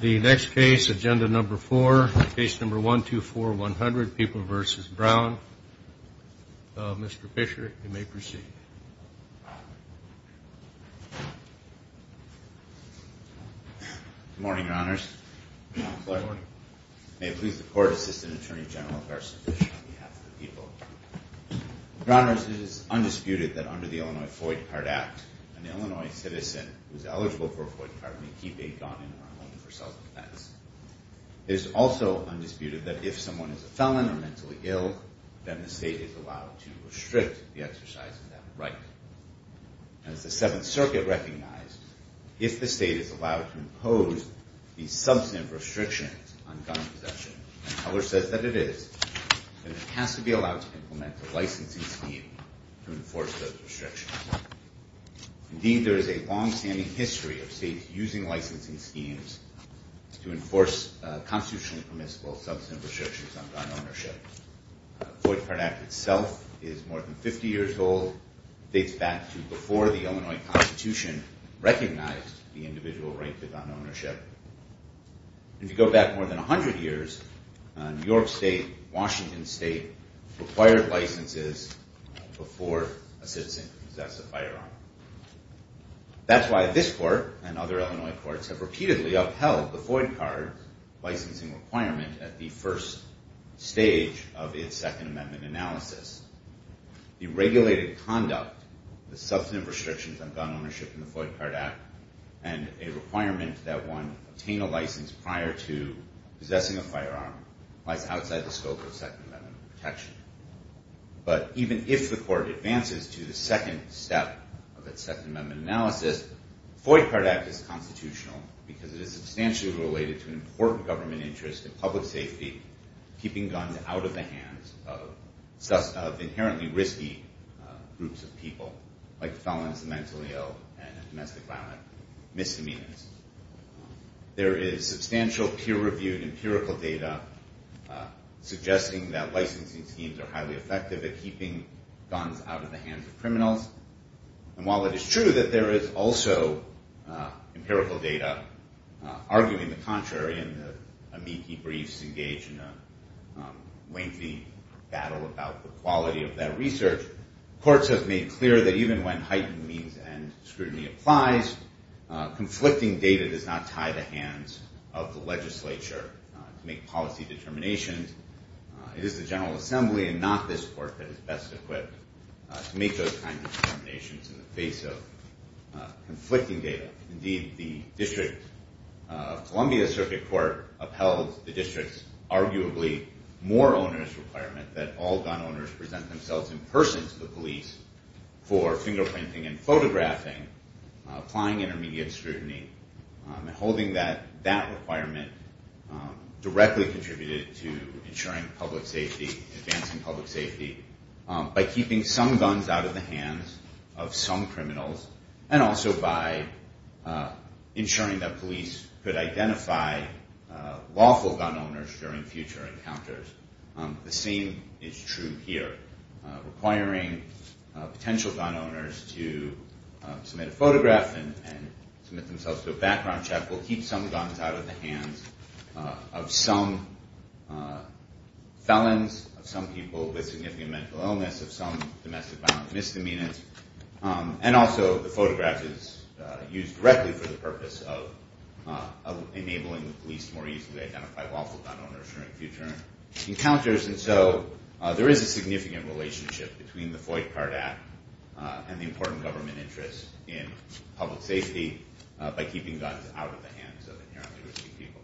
The next case, agenda number four, case number 124100, People v. Brown, Mr. Fisher, you may proceed. Good morning, Your Honors. Good morning. May it please the Court, Assistant Attorney General Carson Fisher, on behalf of the people. Your Honors, it is undisputed that under the Illinois FOID Card Act, an Illinois citizen who is eligible for a FOID card may keep a gun in her home for self-defense. It is also undisputed that if someone is a felon or mentally ill, then the state is allowed to restrict the exercise of that right. As the Seventh Circuit recognized, if the state is allowed to impose these substantive restrictions on gun possession, and Keller says that it is, then it has to be allowed to implement a licensing scheme to enforce those restrictions. Indeed, there is a long-standing history of states using licensing schemes to enforce constitutionally permissible substantive restrictions on gun ownership. The FOID Card Act itself is more than 50 years old. It dates back to before the Illinois Constitution recognized the individual right to gun ownership. If you go back more than 100 years, New York State, Washington State, required licenses before a citizen could possess a firearm. That's why this court and other Illinois courts have repeatedly upheld the FOID Card licensing requirement at the first stage of its Second Amendment analysis. The regulated conduct, the substantive restrictions on gun ownership in the FOID Card Act, and a requirement that one obtain a license prior to possessing a firearm, lies outside the scope of Second Amendment protection. But even if the court advances to the second step of its Second Amendment analysis, the FOID Card Act is constitutional because it is substantially related to an important government interest in public safety, keeping guns out of the hands of inherently risky groups of people, like felons, mentally ill, and domestic violence misdemeanors. There is substantial peer-reviewed empirical data suggesting that licensing schemes are highly effective at keeping guns out of the hands of criminals. And while it is true that there is also empirical data arguing the contrary, and amici briefs engage in a lengthy battle about the quality of that research, courts have made clear that even when heightened means and scrutiny applies, conflicting data does not tie the hands of the legislature to make policy determinations. It is the General Assembly and not this court that is best equipped to make those kinds of determinations in the face of conflicting data. Indeed, the District of Columbia Circuit Court upheld the District's arguably more onerous requirement that all gun owners present themselves in person to the police for fingerprinting and photographing, applying intermediate scrutiny, and holding that that requirement directly contributed to ensuring public safety, advancing public safety, by keeping some guns out of the hands of some criminals, and also by ensuring that police could identify lawful gun owners during future encounters. The same is true here. Requiring potential gun owners to submit a photograph and submit themselves to a background check will keep some guns out of the hands of some felons, of some people with significant mental illness, of some domestic violence misdemeanors, and also the photograph is used directly for the purpose of enabling the police to more easily identify lawful gun owners during future encounters. And so there is a significant relationship between the Void Card Act and the important government interest in public safety by keeping guns out of the hands of inherently risky people.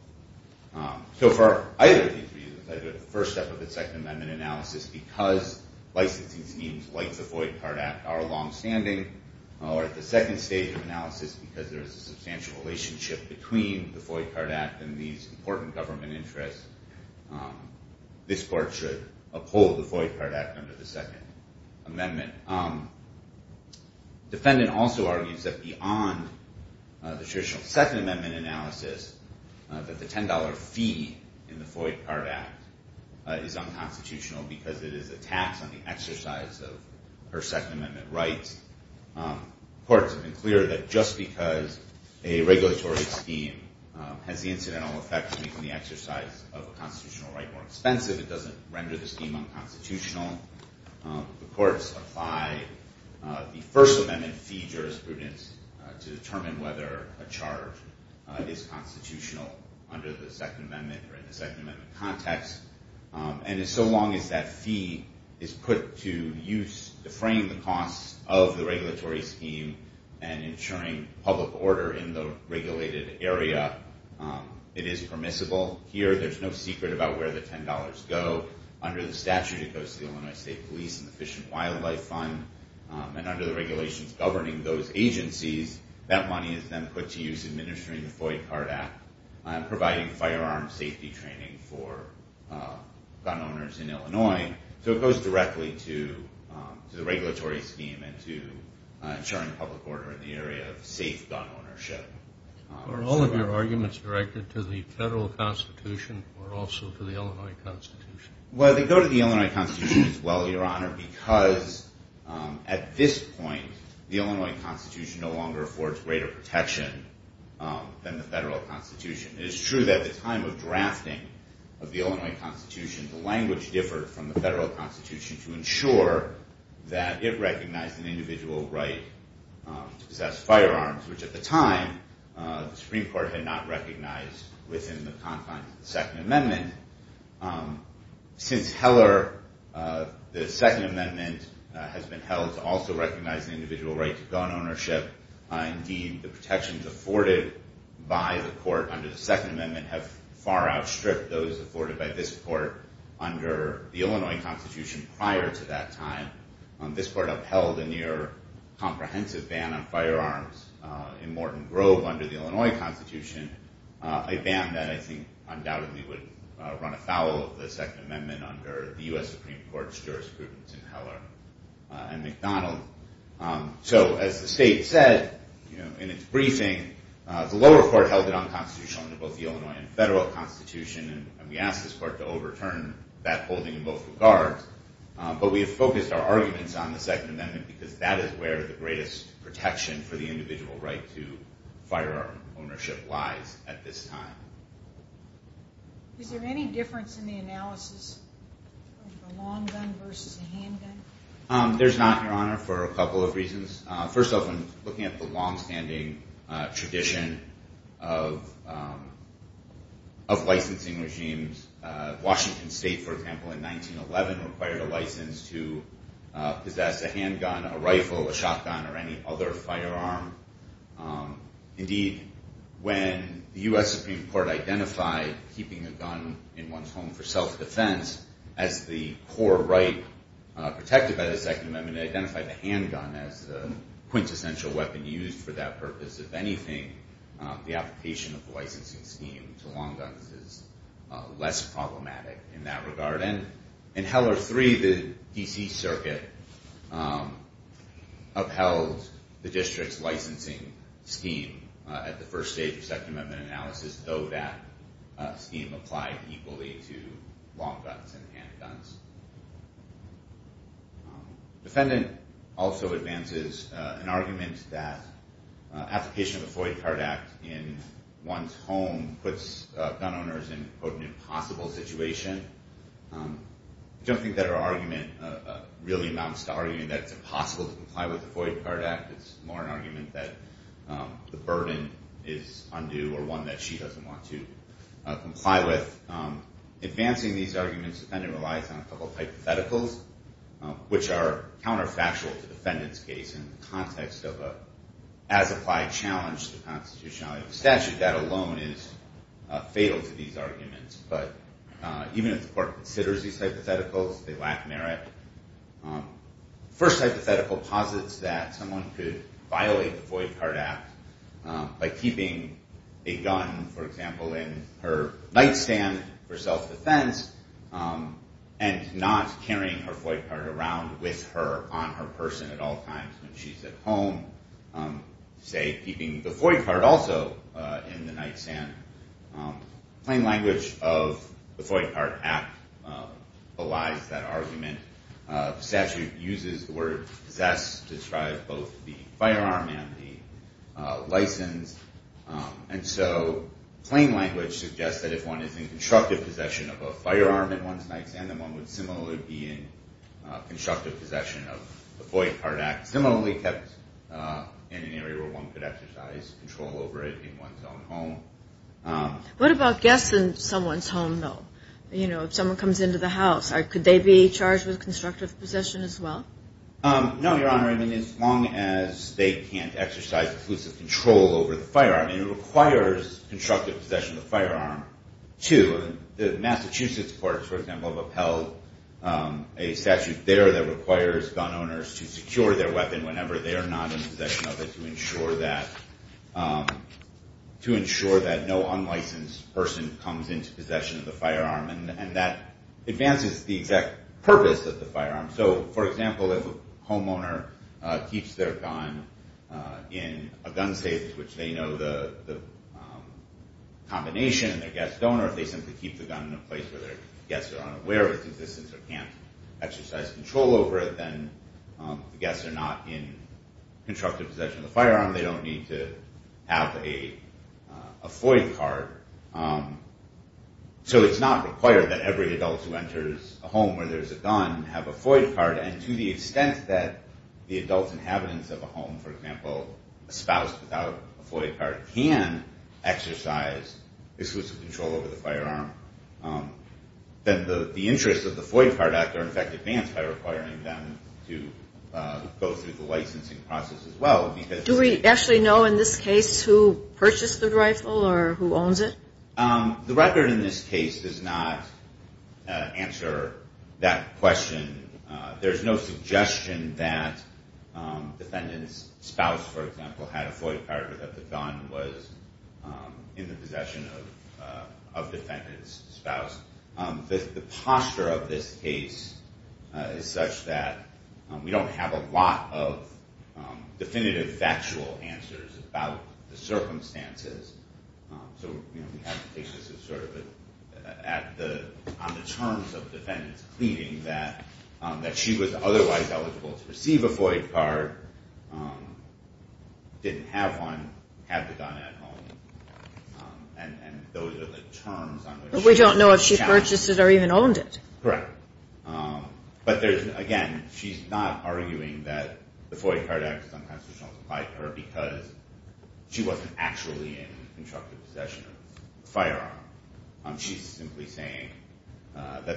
So for either of these reasons, either the first step of the Second Amendment analysis because licensing schemes like the Void Card Act are long-standing, or at the second stage of analysis because there is a substantial relationship between the Void Card Act and these important government interests, this court should uphold the Void Card Act under the Second Amendment. The defendant also argues that beyond the traditional Second Amendment analysis, that the $10 fee in the Void Card Act is unconstitutional because it is a tax on the exercise of her Second Amendment rights. The court has been clear that just because a regulatory scheme has the incidental effect of making the exercise of a constitutional right more expensive, it doesn't render the scheme unconstitutional. The courts apply the First Amendment fee jurisprudence to determine whether a charge is constitutional under the Second Amendment or in the Second Amendment context. And so long as that fee is put to use to frame the costs of the regulatory scheme and ensuring public order in the regulated area, it is permissible. Here, there's no secret about where the $10 go. Under the statute, it goes to the Illinois State Police and the Fish and Wildlife Fund, and under the regulations governing those agencies, that money is then put to use administering the Void Card Act and providing firearm safety training for gun owners in Illinois. So it goes directly to the regulatory scheme and to ensuring public order in the area of safe gun ownership. Are all of your arguments directed to the federal Constitution or also to the Illinois Constitution? Well, they go to the Illinois Constitution as well, Your Honor, because at this point, the Illinois Constitution no longer affords greater protection than the federal Constitution. It is true that at the time of drafting of the Illinois Constitution, the language differed from the federal Constitution to ensure that it recognized an individual right to possess firearms, which at the time, the Supreme Court had not recognized within the confines of the Second Amendment. Since Heller, the Second Amendment has been held to also recognize an individual right to gun ownership. Indeed, the protections afforded by the court under the Second Amendment have far outstripped those afforded by this court under the Illinois Constitution prior to that time. This court upheld a near comprehensive ban on firearms in Morton Grove under the Illinois Constitution, a ban that I think undoubtedly would run afoul of the Second Amendment under the U.S. Supreme Court's jurisprudence in Heller and McDonald. So as the state said in its briefing, the lower court held it unconstitutional under both the Illinois and federal Constitution, and we ask this court to overturn that holding in both regards, but we have focused our arguments on the Second Amendment because that is where the greatest protection for the individual right to firearm ownership lies at this time. Is there any difference in the analysis of a long gun versus a handgun? There's not, Your Honor, for a couple of reasons. First off, I'm looking at the longstanding tradition of licensing regimes. Washington State, for example, in 1911 required a license to possess a handgun, a rifle, a shotgun, or any other firearm. Indeed, when the U.S. Supreme Court identified keeping a gun in one's home for self-defense as the core right protected by the Second Amendment, it identified a handgun as the quintessential weapon used for that purpose. If anything, the application of the licensing scheme to long guns is less problematic in that regard. In Heller 3, the D.C. Circuit upheld the district's licensing scheme at the first stage of Second Amendment analysis, though that scheme applied equally to long guns and handguns. The defendant also advances an argument that application of the Void Card Act in one's home puts gun owners in, quote, an impossible situation. I don't think that her argument really amounts to arguing that it's impossible to comply with the Void Card Act. It's more an argument that the burden is undue or one that she doesn't want to comply with. Advancing these arguments, the defendant relies on a couple of hypotheticals, which are constitutionality of statute. That alone is fatal to these arguments. But even if the court considers these hypotheticals, they lack merit. The first hypothetical posits that someone could violate the Void Card Act by keeping a gun, for example, in her nightstand for self-defense and not carrying her Void Card around with her on her person at all times when she's at home. Say, keeping the Void Card also in the nightstand. Plain language of the Void Card Act belies that argument. The statute uses the word zess to describe both the firearm and the license. And so plain language suggests that if one is in constructive possession of a firearm in one's nightstand, then one would similarly be in constructive possession of the Void Card Act, similarly kept in an area where one could exercise control over it in one's own home. What about guests in someone's home, though? You know, if someone comes into the house, could they be charged with constructive possession as well? No, Your Honor. I mean, as long as they can't exercise exclusive control over the firearm. And it requires constructive possession of the firearm, too. Massachusetts courts, for example, have upheld a statute there that requires gun owners to secure their weapon whenever they are not in possession of it to ensure that no unlicensed person comes into possession of the firearm. And that advances the exact purpose of the firearm. So, for example, if a homeowner keeps their gun in a gun safe, which they know the combination and their guest owner, if they simply keep the gun in a place where their guests are unaware of its existence or can't exercise control over it, then the guests are not in constructive possession of the firearm. They don't need to have a FOIA card. So it's not required that every adult who enters a home where there's a gun have a FOIA card. And to the extent that the adult inhabitants of a home, for example, a spouse without a FOIA card, can exercise exclusive control over the firearm, then the interests of the FOIA card are in fact advanced by requiring them to go through the licensing process as well. Do we actually know in this case who purchased the rifle or who owns it? The record in this case does not answer that question. There's no suggestion that the defendant's spouse, for example, had a FOIA card or that the gun was in the possession of the defendant's spouse. The posture of this case is such that we don't have a lot of definitive factual answers about the circumstances. So we have to take this as sort of on the terms of the defendant's pleading that she was otherwise eligible to receive a FOIA card, didn't have one, had the gun at home, and those are the terms on which she was challenged. But we don't know if she purchased it or even owned it. Correct. But there's, again, she's not arguing that the FOIA card act sometimes was not applied to her because she wasn't actually in possession of the gun.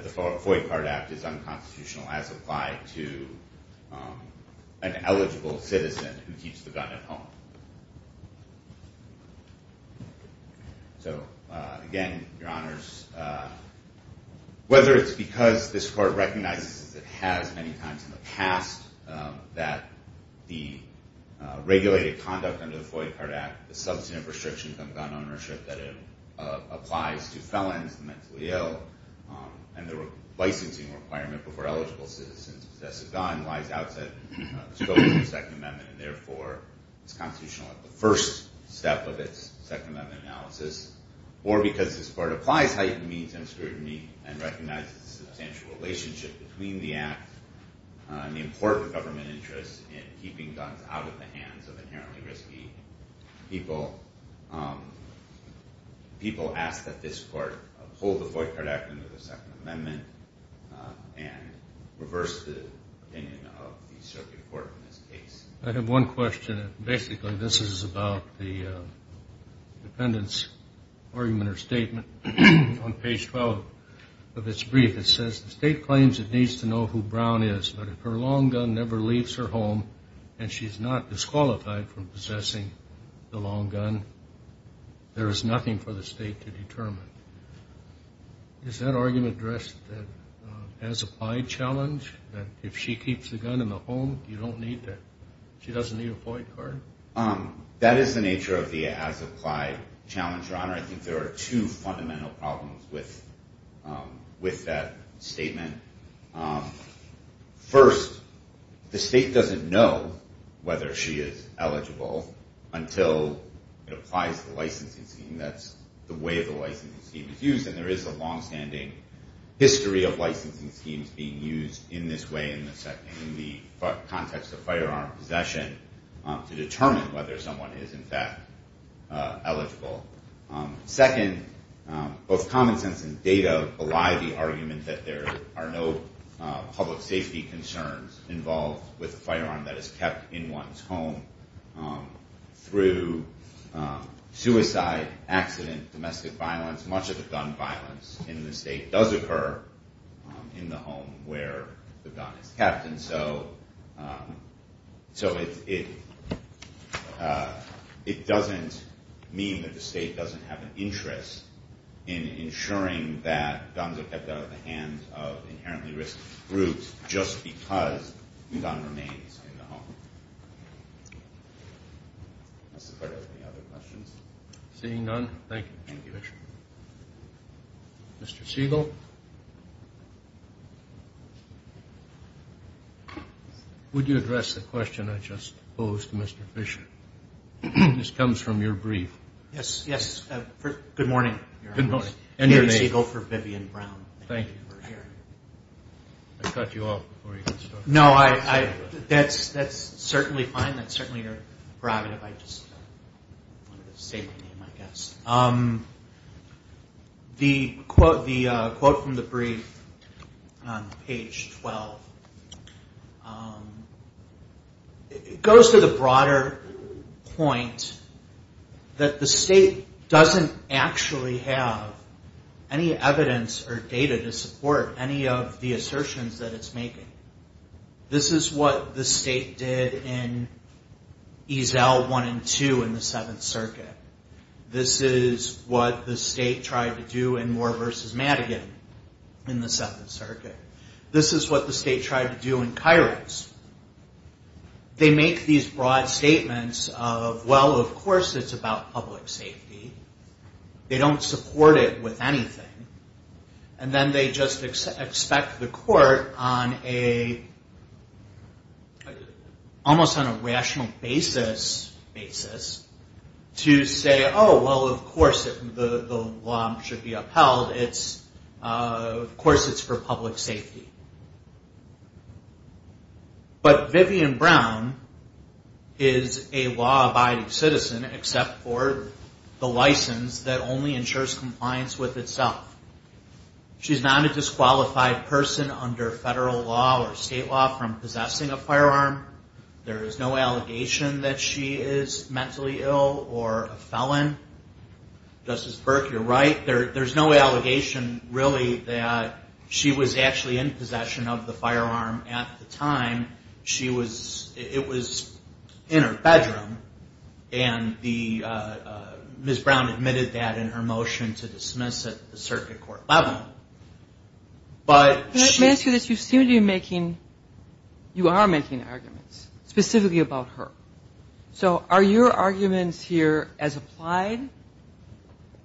The FOIA card act is unconstitutional as applied to an eligible citizen who keeps the gun at home. So again, your honors, whether it's because this court recognizes as it has many times in the past that the regulated conduct under the FOIA card act, and the licensing requirement before eligible citizens possess a gun lies outside the scope of the second amendment, and therefore it's constitutional at the first step of its second amendment analysis, or because this court applies heightened means and scrutiny and recognizes the substantial relationship between the act and the important government interests in keeping guns out of the hands of inherently risky people, people ask that this court uphold the FOIA card act under the second amendment and reverse the opinion of the circuit court in this case. I have one question. Basically, this is about the defendant's argument or statement. On page 12 of its brief, it says, the state claims it needs to know who Brown is, but if her long gun never leaves her home and she's not disqualified from possessing the long gun, there is nothing for the state to determine. Is that argument addressed as applied challenge, that if she keeps the gun in the home, you don't need that? She doesn't need a FOIA card? That is the nature of the as applied challenge, your honor. I think there are two fundamental problems with that statement. First, the state doesn't know whether she is eligible until it applies the licensing scheme. That's the way the licensing scheme is used, and there is a longstanding history of licensing schemes being used in this way in the context of firearm possession to determine whether someone is in fact eligible. Second, both common sense and data belie the argument that there are no public safety concerns involved with a firearm that is kept in one's home through suicide, accident, domestic violence. Much of the gun violence in the state does occur in the home where the gun is kept, and so it doesn't mean that the state doesn't have an interest in ensuring that guns are kept out of the hands of inherently risky groups just because the gun remains in the home. Mr. Carter, any other questions? Seeing none, thank you, Mr. Bishop. Mr. Siegel? Would you address the question I just posed to Mr. Bishop? This comes from your brief. Yes, good morning. My name is Siegel for Vivian Brown. Thank you for hearing. I cut you off before you could start. No, that's certainly fine. That's certainly your prerogative. I just wanted to say my name, I guess. The quote from the brief on page 12, it goes to the broader point that the state doesn't actually have any evidence or data to support any of the assertions that it's making. This is what the state did in Eazell 1 and 2 in the Seventh Circuit. This is what the state tried to do in Moore v. Madigan in the Seventh Circuit. This is what the state tried to do in Kairos. They make these broad statements of, well, of course it's about public safety. They don't support it with anything. And then they just expect the court, almost on a rational basis, to say, oh, well, of course the law should be upheld. Of course it's for public safety. But Vivian Brown is a law-abiding citizen, except for the license that only ensures compliance with itself. She's not a disqualified person under federal law or state law from possessing a firearm. There is no allegation that she is mentally ill or a felon. Justice Burke, you're right. There's no allegation, really, that she was actually in possession of the firearm at the time. It was in her bedroom, and Ms. Brown admitted that in her motion to dismiss at the circuit court level. But she – Let me ask you this. You seem to be making – you are making arguments specifically about her. So are your arguments here as applied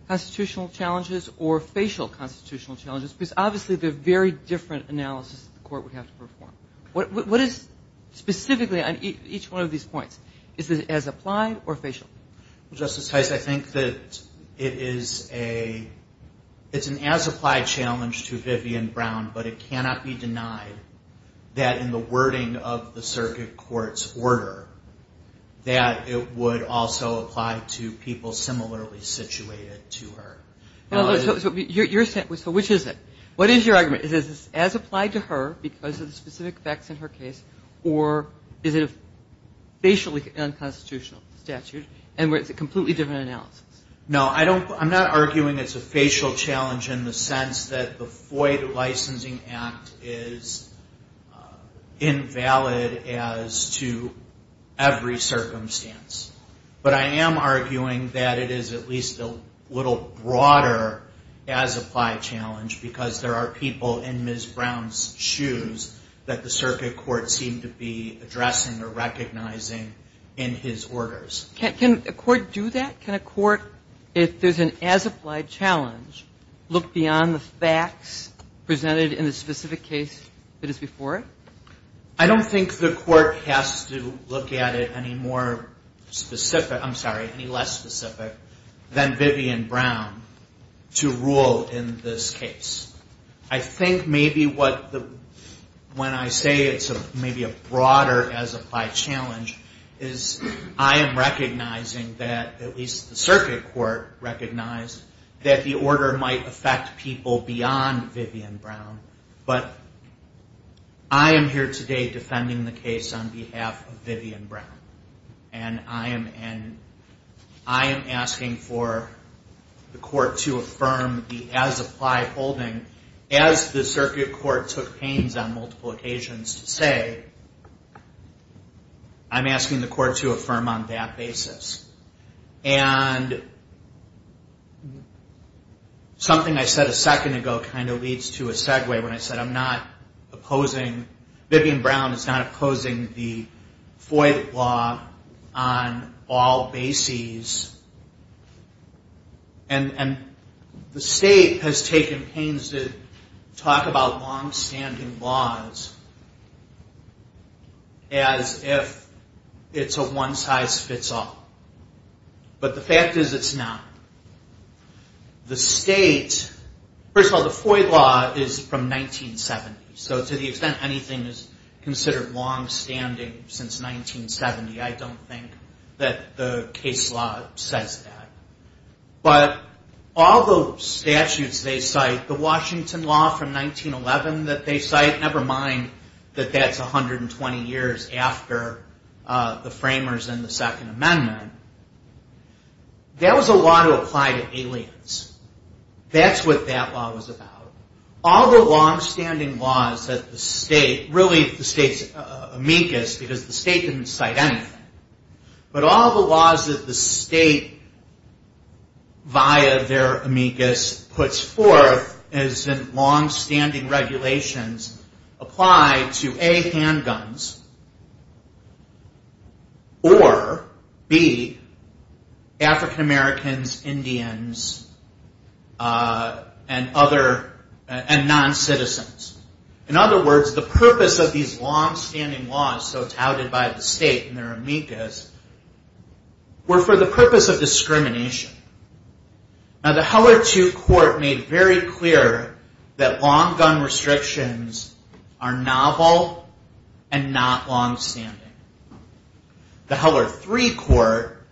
constitutional challenges or facial constitutional challenges? Because obviously they're very different analysis the court would have to perform. What is specifically on each one of these points? Is it as applied or facial? Justice Heiss, I think that it is a – it's an as-applied challenge to Vivian Brown, but it cannot be denied that in the wording of the circuit court's order that it would also apply to people similarly situated to her. So which is it? What is your argument? Is it as applied to her because of the specific facts in her case, or is it a facially unconstitutional statute? And is it a completely different analysis? No, I don't – I'm not arguing it's a facial challenge in the sense that the Floyd Licensing Act is invalid as to every circumstance. But I am arguing that it is at least a little broader as-applied challenge because there are people in Ms. Brown's shoes that the circuit court seemed to be addressing or recognizing in his orders. Can a court do that? Can a court, if there's an as-applied challenge, look beyond the facts presented in the specific case that is before it? I don't think the court has to look at it any more specific – I'm sorry, any less specific than Vivian Brown to rule in this case. I think maybe what the – when I say it's maybe a broader as-applied challenge is I am recognizing that, at least the circuit court recognized, that the order might affect people beyond Vivian Brown. But I am here today defending the case on behalf of Vivian Brown. And I am asking for the court to affirm the as-applied holding as the circuit court took pains on multiple occasions to say, I'm asking the court to affirm on that basis. And something I said a second ago kind of leads to a segue when I said I'm not opposing – Vivian Brown is not opposing the FOIA law on all bases. And the state has taken pains to talk about longstanding laws as if it's a one-size-fits-all. But the fact is it's not. The state – first of all, the FOIA law is from 1970, so to the extent anything is considered longstanding since 1970, I don't think that the case law says that. But all the statutes they cite, the Washington law from 1911 that they cite, never mind that that's 120 years after the framers in the Second Amendment, that was a law to apply to aliens. That's what that law was about. All the longstanding laws that the state – really the state's amicus, because the state didn't cite anything. But all the laws that the state, via their amicus, puts forth as longstanding regulations apply to, A, handguns, or, B, African Americans, Indians, and noncitizens. In other words, the purpose of these longstanding laws, so touted by the state in their amicus, were for the purpose of discrimination. Now, the Heller 2 Court made very clear that long gun restrictions are novel and not longstanding. The Heller 3 Court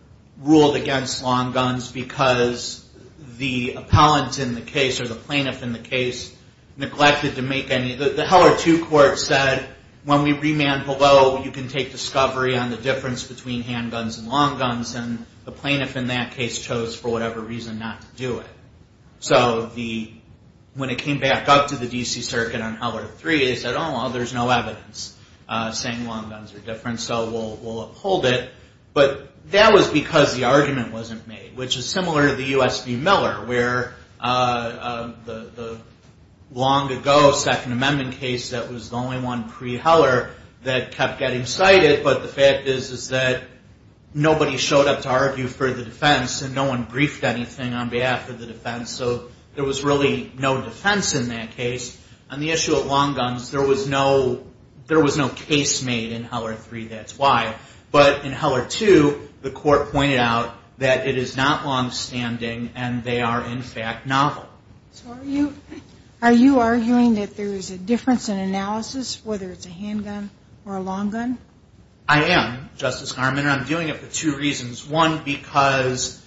ruled against long guns because the appellant in the case, neglected to make any – the Heller 2 Court said, when we remand below, you can take discovery on the difference between handguns and long guns. And the plaintiff in that case chose, for whatever reason, not to do it. So when it came back up to the D.C. Circuit on Heller 3, they said, oh, well, there's no evidence saying long guns are different, so we'll uphold it. But that was because the argument wasn't made, which is similar to the U.S. v. Miller, where the long-ago Second Amendment case that was the only one pre-Heller that kept getting cited. But the fact is that nobody showed up to argue for the defense, and no one briefed anything on behalf of the defense. So there was really no defense in that case. On the issue of long guns, there was no case made in Heller 3. That's why. But in Heller 2, the court pointed out that it is not long-standing and they are, in fact, novel. So are you arguing that there is a difference in analysis, whether it's a handgun or a long gun? I am, Justice Garment, and I'm doing it for two reasons. One, because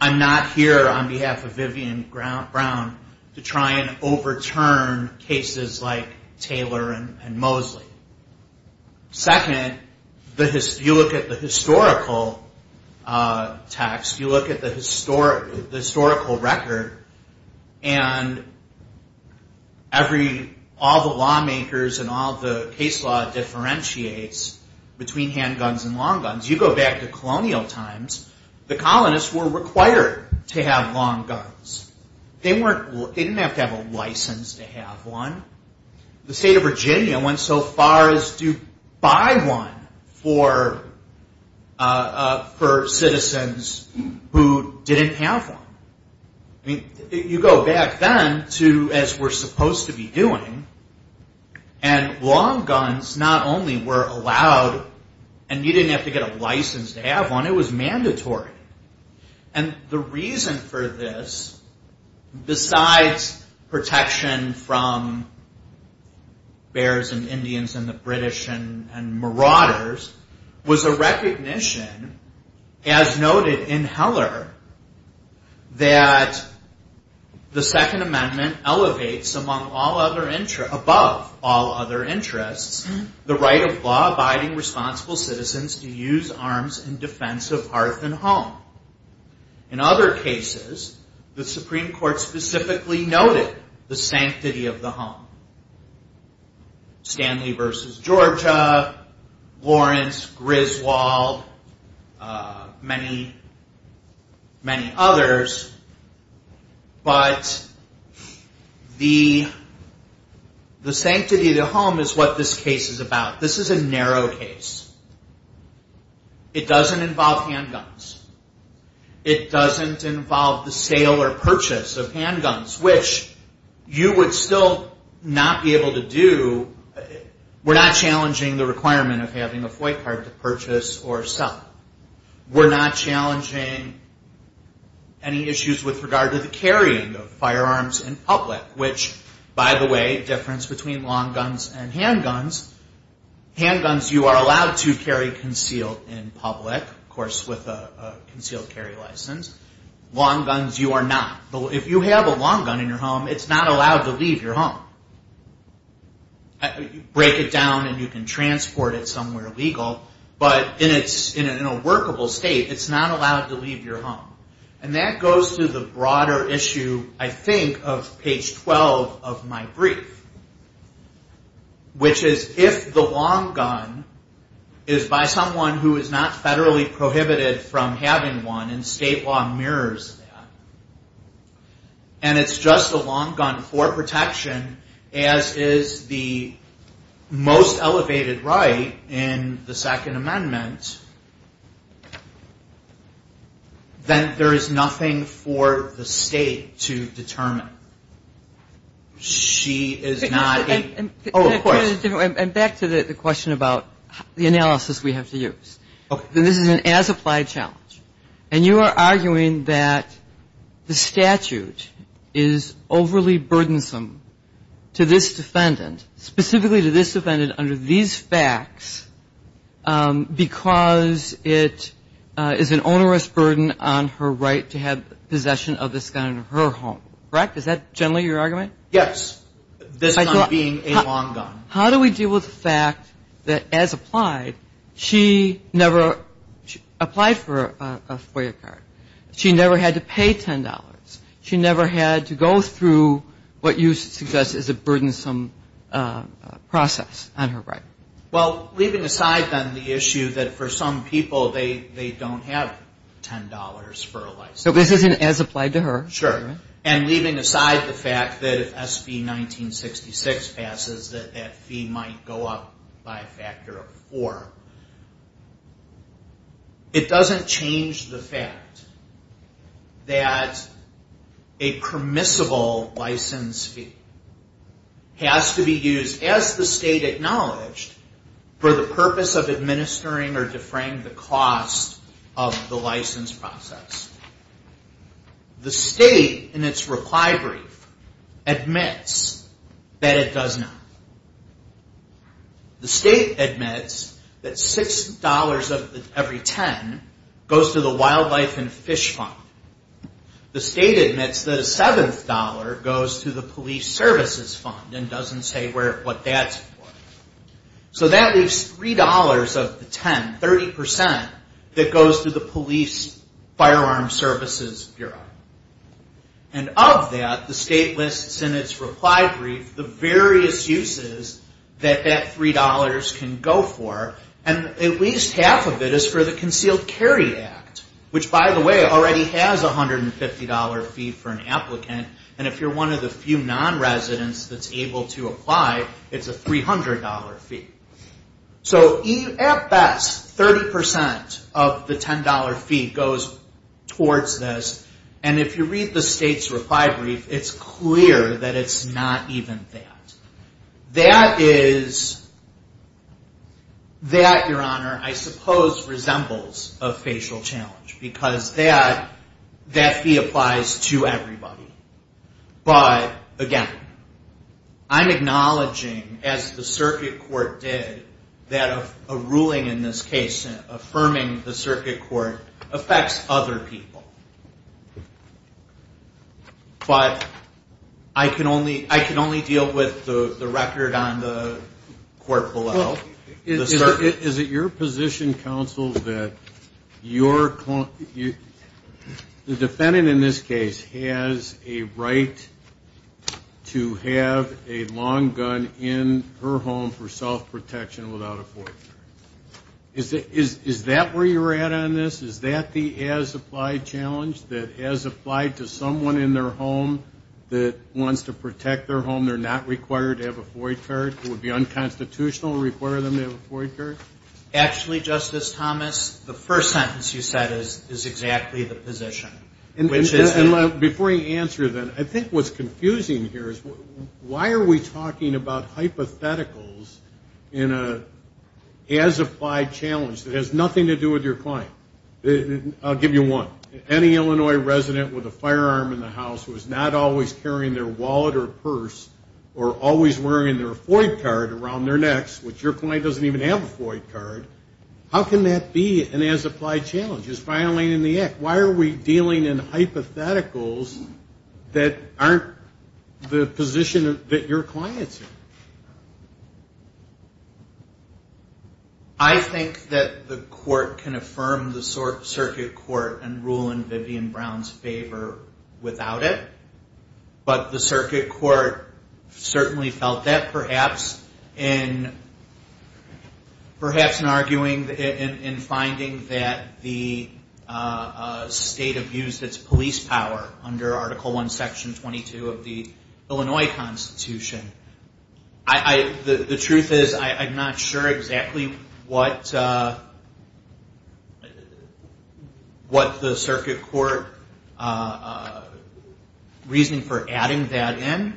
I'm not here on behalf of Vivian Brown to try and overturn cases like Taylor and Mosley. Second, you look at the historical text, you look at the historical record, and all the lawmakers and all the case law differentiates between handguns and long guns. You go back to colonial times, the colonists were required to have long guns. They didn't have to have a license to have one. The state of Virginia went so far as to buy one for citizens who didn't have one. You go back then to as we're supposed to be doing, and long guns not only were allowed, and you didn't have to get a license to have one, it was mandatory. And the reason for this, besides protection from bears and Indians and the British and marauders, was a recognition, as noted in Heller, that the Second Amendment elevates, above all other interests, the right of law-abiding responsible citizens to use arms in defense of hearth and home. In other cases, the Supreme Court specifically noted the sanctity of the home. Stanley v. Georgia, Lawrence, Griswold, many, many others, but the sanctity of the home is what this case is about. This is a narrow case. It doesn't involve handguns. It doesn't involve the sale or purchase of handguns, which you would still not be able to do. We're not challenging the requirement of having a FOIC card to purchase or sell. We're not challenging any issues with regard to the carrying of firearms in public, which, by the way, is a big difference between long guns and handguns. Handguns, you are allowed to carry concealed in public, of course, with a concealed carry license. Long guns, you are not. If you have a long gun in your home, it's not allowed to leave your home. You break it down and you can transport it somewhere legal, but in a workable state, it's not allowed to leave your home. And that goes to the broader issue, I think, of page 12 of my brief, which is if the long gun is by someone who is not federally prohibited from having one, and state law mirrors that, and it's just a long gun for protection, as is the most elevated right in the Second Amendment, then there is nothing for the state to determine. She is not a... Oh, of course. And back to the question about the analysis we have to use. Okay. This is an as-applied challenge, and you are arguing that the statute is overly burdensome to this defendant, specifically to this defendant, under these facts because it is an onerous burden on her right to have possession of this gun in her home, correct? Is that generally your argument? Yes, this gun being a long gun. How do we deal with the fact that, as applied, she never applied for a FOIA card? She never had to pay $10. She never had to go through what you suggest is a burdensome process on her right? Well, leaving aside, then, the issue that, for some people, they don't have $10 for a license. So this isn't as applied to her? Sure. And leaving aside the fact that if SB 1966 passes, that that fee might go up by a factor of four. It doesn't change the fact that a permissible license fee has to be used, as the state acknowledged, for the purpose of administering or defraying the cost of the license process. The state, in its reply brief, admits that it does not. The state admits that $6 of every $10 goes to the Wildlife and Fish Fund. The state admits that a $7 goes to the Police Services Fund and doesn't say what that's for. So that leaves $3 of the $10, 30%, that goes to the Police Firearm Services Bureau. And of that, the state lists, in its reply brief, the various uses that that $3 can go for. And at least half of it is for the Concealed Carry Act, which, by the way, already has a $150 fee for an applicant. And if you're one of the few non-residents that's able to apply, it's a $300 fee. So at best, 30% of the $10 fee goes towards this. And if you read the state's reply brief, it's clear that it's not even that. That, Your Honor, I suppose resembles a facial challenge because that fee applies to everybody. But, again, I'm acknowledging, as the circuit court did, that a ruling in this case affirming the circuit court affects other people. But I can only deal with the record on the court below. Is it your position, counsel, that the defendant in this case has a right to have a long gun in her home for self-protection without a FOIA charge? Is that where you're at on this? Is that the as-applied challenge, that as applied to someone in their home that wants to protect their home, they're not required to have a FOIA charge? It would be unconstitutional to require them to have a FOIA charge? Actually, Justice Thomas, the first sentence you said is exactly the position. Before you answer that, I think what's confusing here is, why are we talking about hypotheticals in an as-applied challenge that has nothing to do with your client? I'll give you one. Any Illinois resident with a firearm in the house who is not always carrying their wallet or purse or always wearing their FOIA card around their necks, which your client doesn't even have a FOIA card, how can that be an as-applied challenge? It's violating the act. Why are we dealing in hypotheticals that aren't the position that your client's in? I think that the court can affirm the circuit court and rule in Vivian Brown's favor without it. But the circuit court certainly felt that, perhaps, in arguing and finding that the state abused its police power under Article I, Section 22 of the Illinois Constitution. The truth is I'm not sure exactly what the circuit court reasoning for adding that in,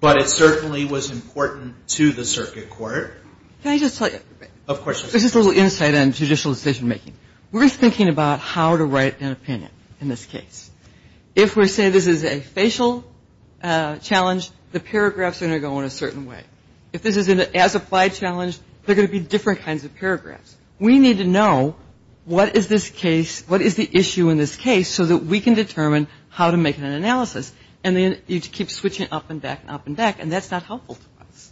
but it certainly was important to the circuit court. Can I just tell you? Of course. Just a little insight on judicial decision-making. We're thinking about how to write an opinion in this case. If we say this is a facial challenge, the paragraphs are going to go in a certain way. If this is an as-applied challenge, there are going to be different kinds of paragraphs. We need to know what is this case, what is the issue in this case, so that we can determine how to make an analysis. And then you keep switching up and back and up and back, and that's not helpful to us.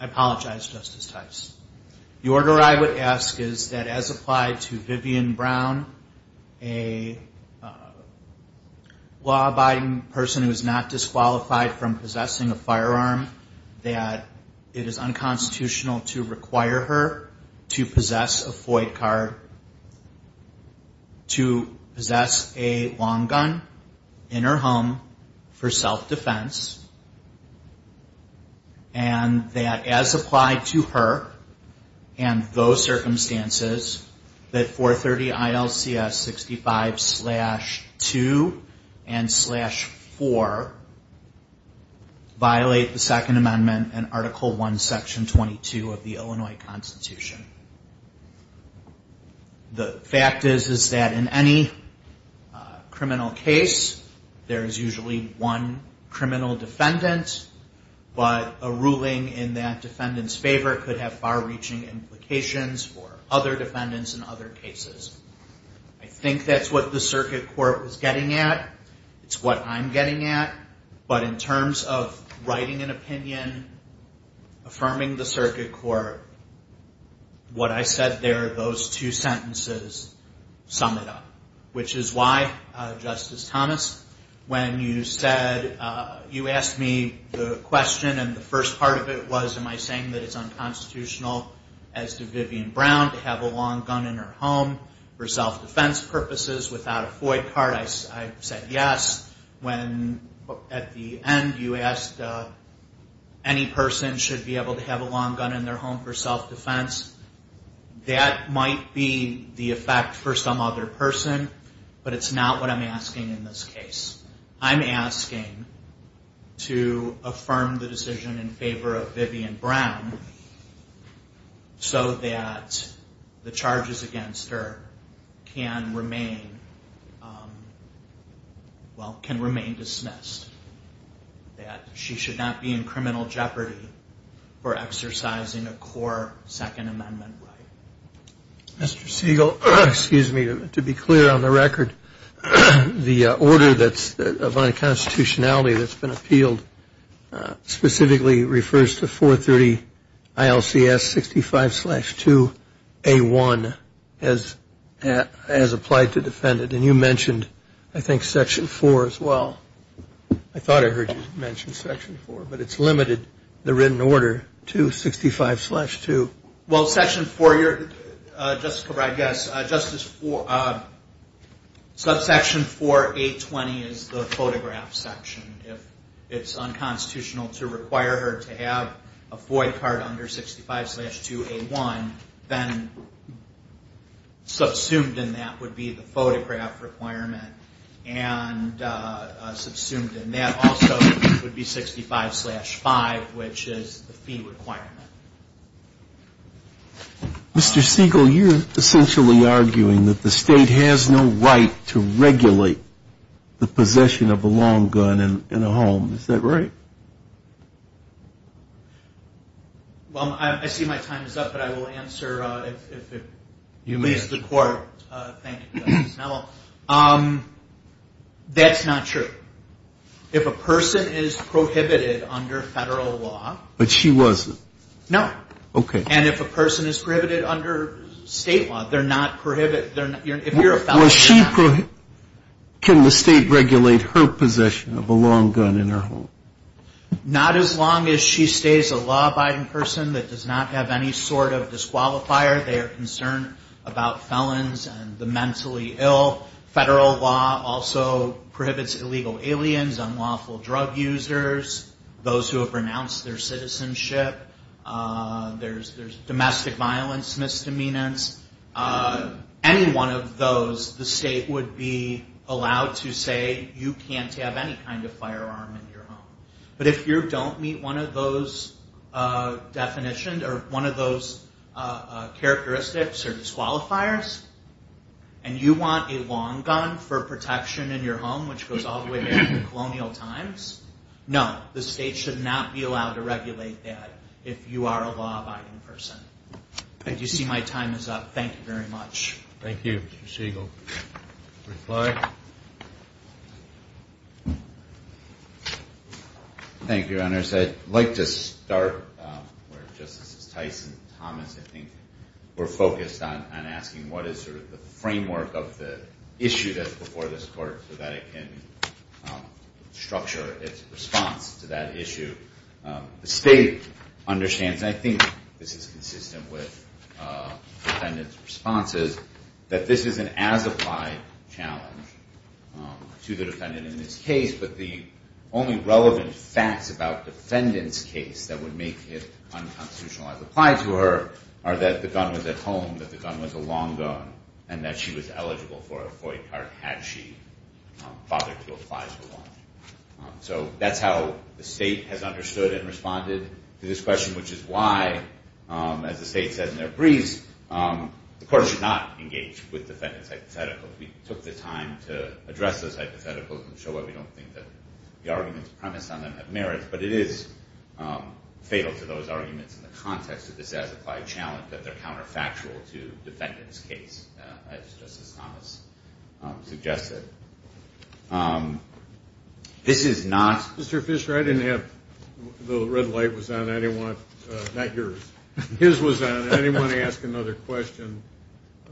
I apologize, Justice Tice. The order I would ask is that, as applied to Vivian Brown, a law-abiding person who is not disqualified from possessing a firearm, that it is unconstitutional to require her to possess a FOIA card, to possess a long gun in her home for self-defense, and that, as applied to her and those circumstances, that 430 ILCS 65-2 and 4 violate the Second Amendment and Article I, Section 22 of the Illinois Constitution. The fact is that in any criminal case, there is usually one criminal defendant, but a ruling in that defendant's favor could have far-reaching implications for other defendants in other cases. I think that's what the circuit court was getting at. It's what I'm getting at. But in terms of writing an opinion, affirming the circuit court, what I said there, those two sentences sum it up. Which is why, Justice Thomas, when you said, you asked me the question and the first part of it was, am I saying that it's unconstitutional as to Vivian Brown to have a long gun in her home for self-defense purposes without a FOIA card? I said yes. When, at the end, you asked, any person should be able to have a long gun in their home for self-defense, that might be the effect for some other person, but it's not what I'm asking in this case. I'm asking to affirm the decision in favor of Vivian Brown so that the charges against her can remain dismissed, that she should not be in criminal jeopardy for exercising a core Second Amendment right. Mr. Siegel, to be clear on the record, the order of unconstitutionality that's been appealed specifically refers to 430 ILCS 65-2A1 as applied to defendant, and you mentioned, I think, Section 4 as well. I thought I heard you mention Section 4, but it's limited, the written order, to 65-2. Well, Section 4, Justice Kovrig, yes. Subsection 4A20 is the photograph section. If it's unconstitutional to require her to have a FOIA card under 65-2A1, then subsumed in that would be the photograph requirement, and subsumed in that also would be 65-2A1. Mr. Siegel, you're essentially arguing that the state has no right to regulate the possession of a long gun in a home. Is that right? Well, I see my time is up, but I will answer if you may ask the court. Thank you, Justice Neville. That's not true. If a person is prohibited under Federal law. But she wasn't. No. Okay. And if a person is prohibited under State law, they're not prohibited if you're a felon. Can the State regulate her possession of a long gun in her home? Not as long as she stays a law-abiding person that does not have any sort of disqualifier. They are concerned about felons and the mentally ill. Federal law also prohibits illegal aliens, unlawful drug users, those who have renounced their citizenship. There's domestic violence misdemeanors. Any one of those, the State would be allowed to say, you can't have any kind of firearm in your home. But if you don't meet one of those definitions, or one of those characteristics or disqualifiers, and you want a long gun for protection in your home, which goes all the way back to colonial times, no, the State should not be allowed to regulate that if you are a law-abiding person. I do see my time is up. Thank you very much. Thank you, Mr. Siegel. Thank you, Your Honors. I'd like to start where Justices Tyson and Thomas were focused on asking what is the framework of the issue that's before this Court so that it can structure its response to that issue. The State understands, and I think this is consistent with the unconstitutionalized applied challenge to the defendant in this case, but the only relevant facts about the defendant's case that would make it unconstitutionalized applied to her are that the gun was at home, that the gun was a long gun, and that she was eligible for a FOIA card had she bothered to apply for one. So that's how the State has understood and responded to this question, which is why, as the State said in their briefs, the Court should not engage with defendant's hypotheticals. We took the time to address those hypotheticals and show that we don't think that the arguments premised on them have merit, but it is fatal to those arguments in the context of this as-applied challenge that they're counterfactual to the defendant's case, as Justice Thomas suggested. Mr. Fisher, I didn't have the red light was on. I didn't want to ask another question.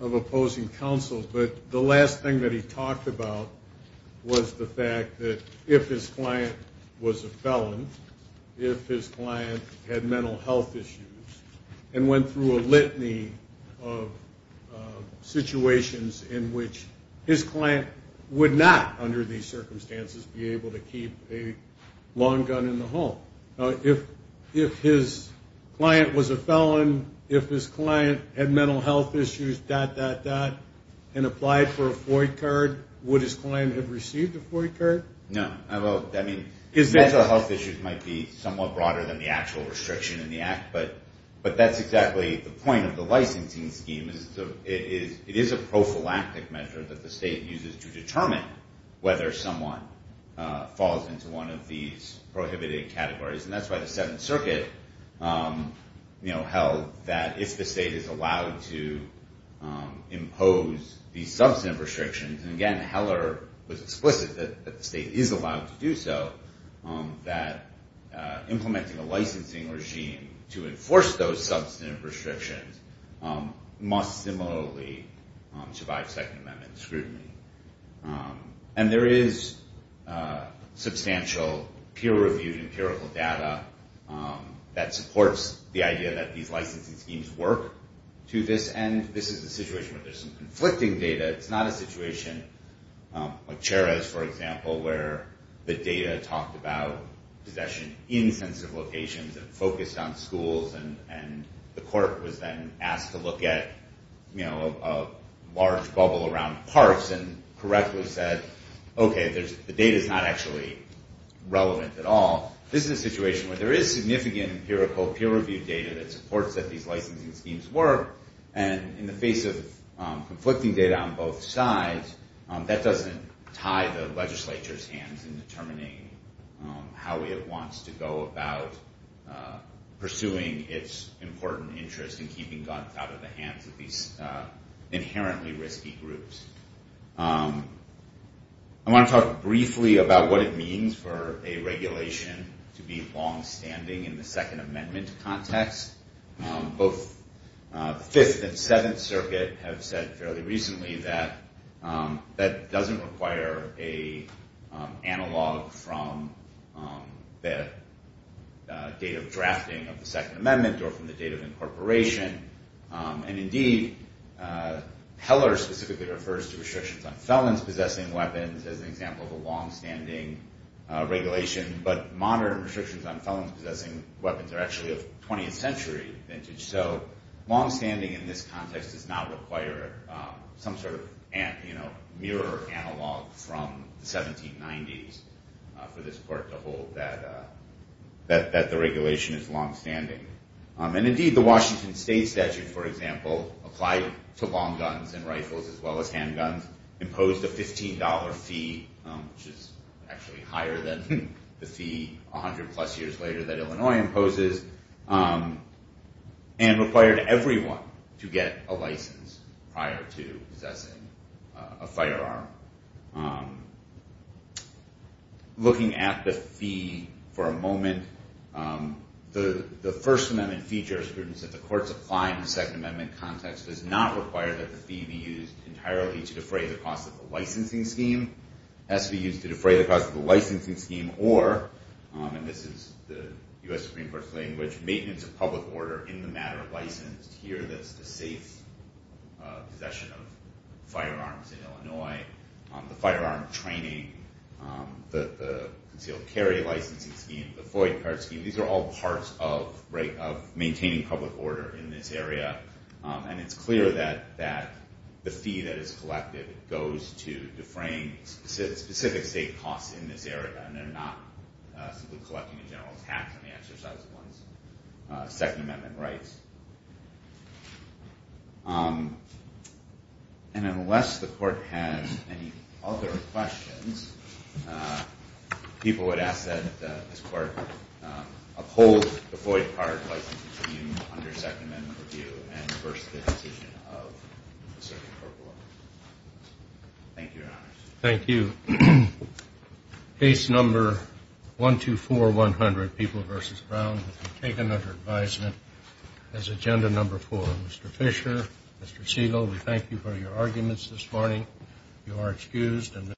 I'm not in favor of opposing counsel, but the last thing that he talked about was the fact that if his client was a felon, if his client had mental health issues and went through a litany of situations in which his client would not, under these circumstances, be able to keep a long gun in the home. If his client was a felon, if his client had mental health issues and applied for a FOIA card, would his client have received a FOIA card? No. Mental health issues might be somewhat broader than the actual restriction in the Act, but that's exactly the point of the licensing scheme. It is a prophylactic measure that the State uses to determine whether someone falls into one of these prohibited categories. That's why the Seventh Circuit held that if the State is allowed to impose these substantive restrictions, and again, Heller was explicit that the State is allowed to do so, that implementing a licensing regime to enforce those substantive restrictions must similarly survive Second Amendment scrutiny. And there is substantial peer-reviewed empirical data that supports the idea that these licensing schemes work to this end. This is a situation where there's some conflicting data. It's not a situation like Cherez, for example, where the data talked about possession in sensitive locations and focused on schools, and the court was then asked to look at a large bubble around parks and correctly said, okay, the data's not actually relevant at all. This is a situation where there is significant empirical peer-reviewed data that supports that these licensing schemes work, and in the face of conflicting data on both sides, that doesn't tie the legislature's hands in determining how it wants to go about pursuing its important interest in keeping guns out of the hands of these inherently risky groups. I want to talk briefly about what it means for a regulation to be long-standing in the Second Amendment context. Both the Fifth and Seventh Circuit have said fairly recently that that doesn't require an analog from the date of drafting of the Second Amendment or from the date of incorporation. And indeed, Heller specifically refers to restrictions on felons possessing weapons as an example of a long-standing regulation, but modern restrictions on felons possessing weapons are actually of 20th century vintage. So long-standing in this context does not require some sort of mirror analog from the 1790s for this court to hold that the regulation is long-standing. And indeed, the Washington state statute, for example, applied to long guns and rifles as well as handguns, imposed a $15 fee, which is actually higher than the fee 100 plus years later that Illinois imposes, and required everyone to get a license prior to possessing a firearm. Looking at the fee for a moment, the First Amendment features that the courts apply in the Second Amendment context does not require that the fee be used entirely to defray the cost of the licensing scheme. It has to be used to defray the cost of the licensing scheme or, and this is the U.S. Supreme Court's language, maintenance of public order in the matter of license. Here that's the safe possession of firearms in Illinois. The firearm training, the concealed carry licensing scheme, the Floyd card scheme, these are all parts of maintaining public order in this area. And it's clear that the fee that is collected goes to defraying specific state costs in this area, and they're not simply collecting a general tax on the exercise of one's Second Amendment rights. And unless the court has any other questions, people would ask that this court uphold the Floyd card licensing scheme under Second Amendment review and reverse the decision of the Supreme Court Board. Thank you, Your Honors. Thank you. Case number 124100, People v. Brown, taken under advisement, as agenda number 4. Mr. Fisher, Mr. Siegel, we thank you for your arguments this morning. You are excused.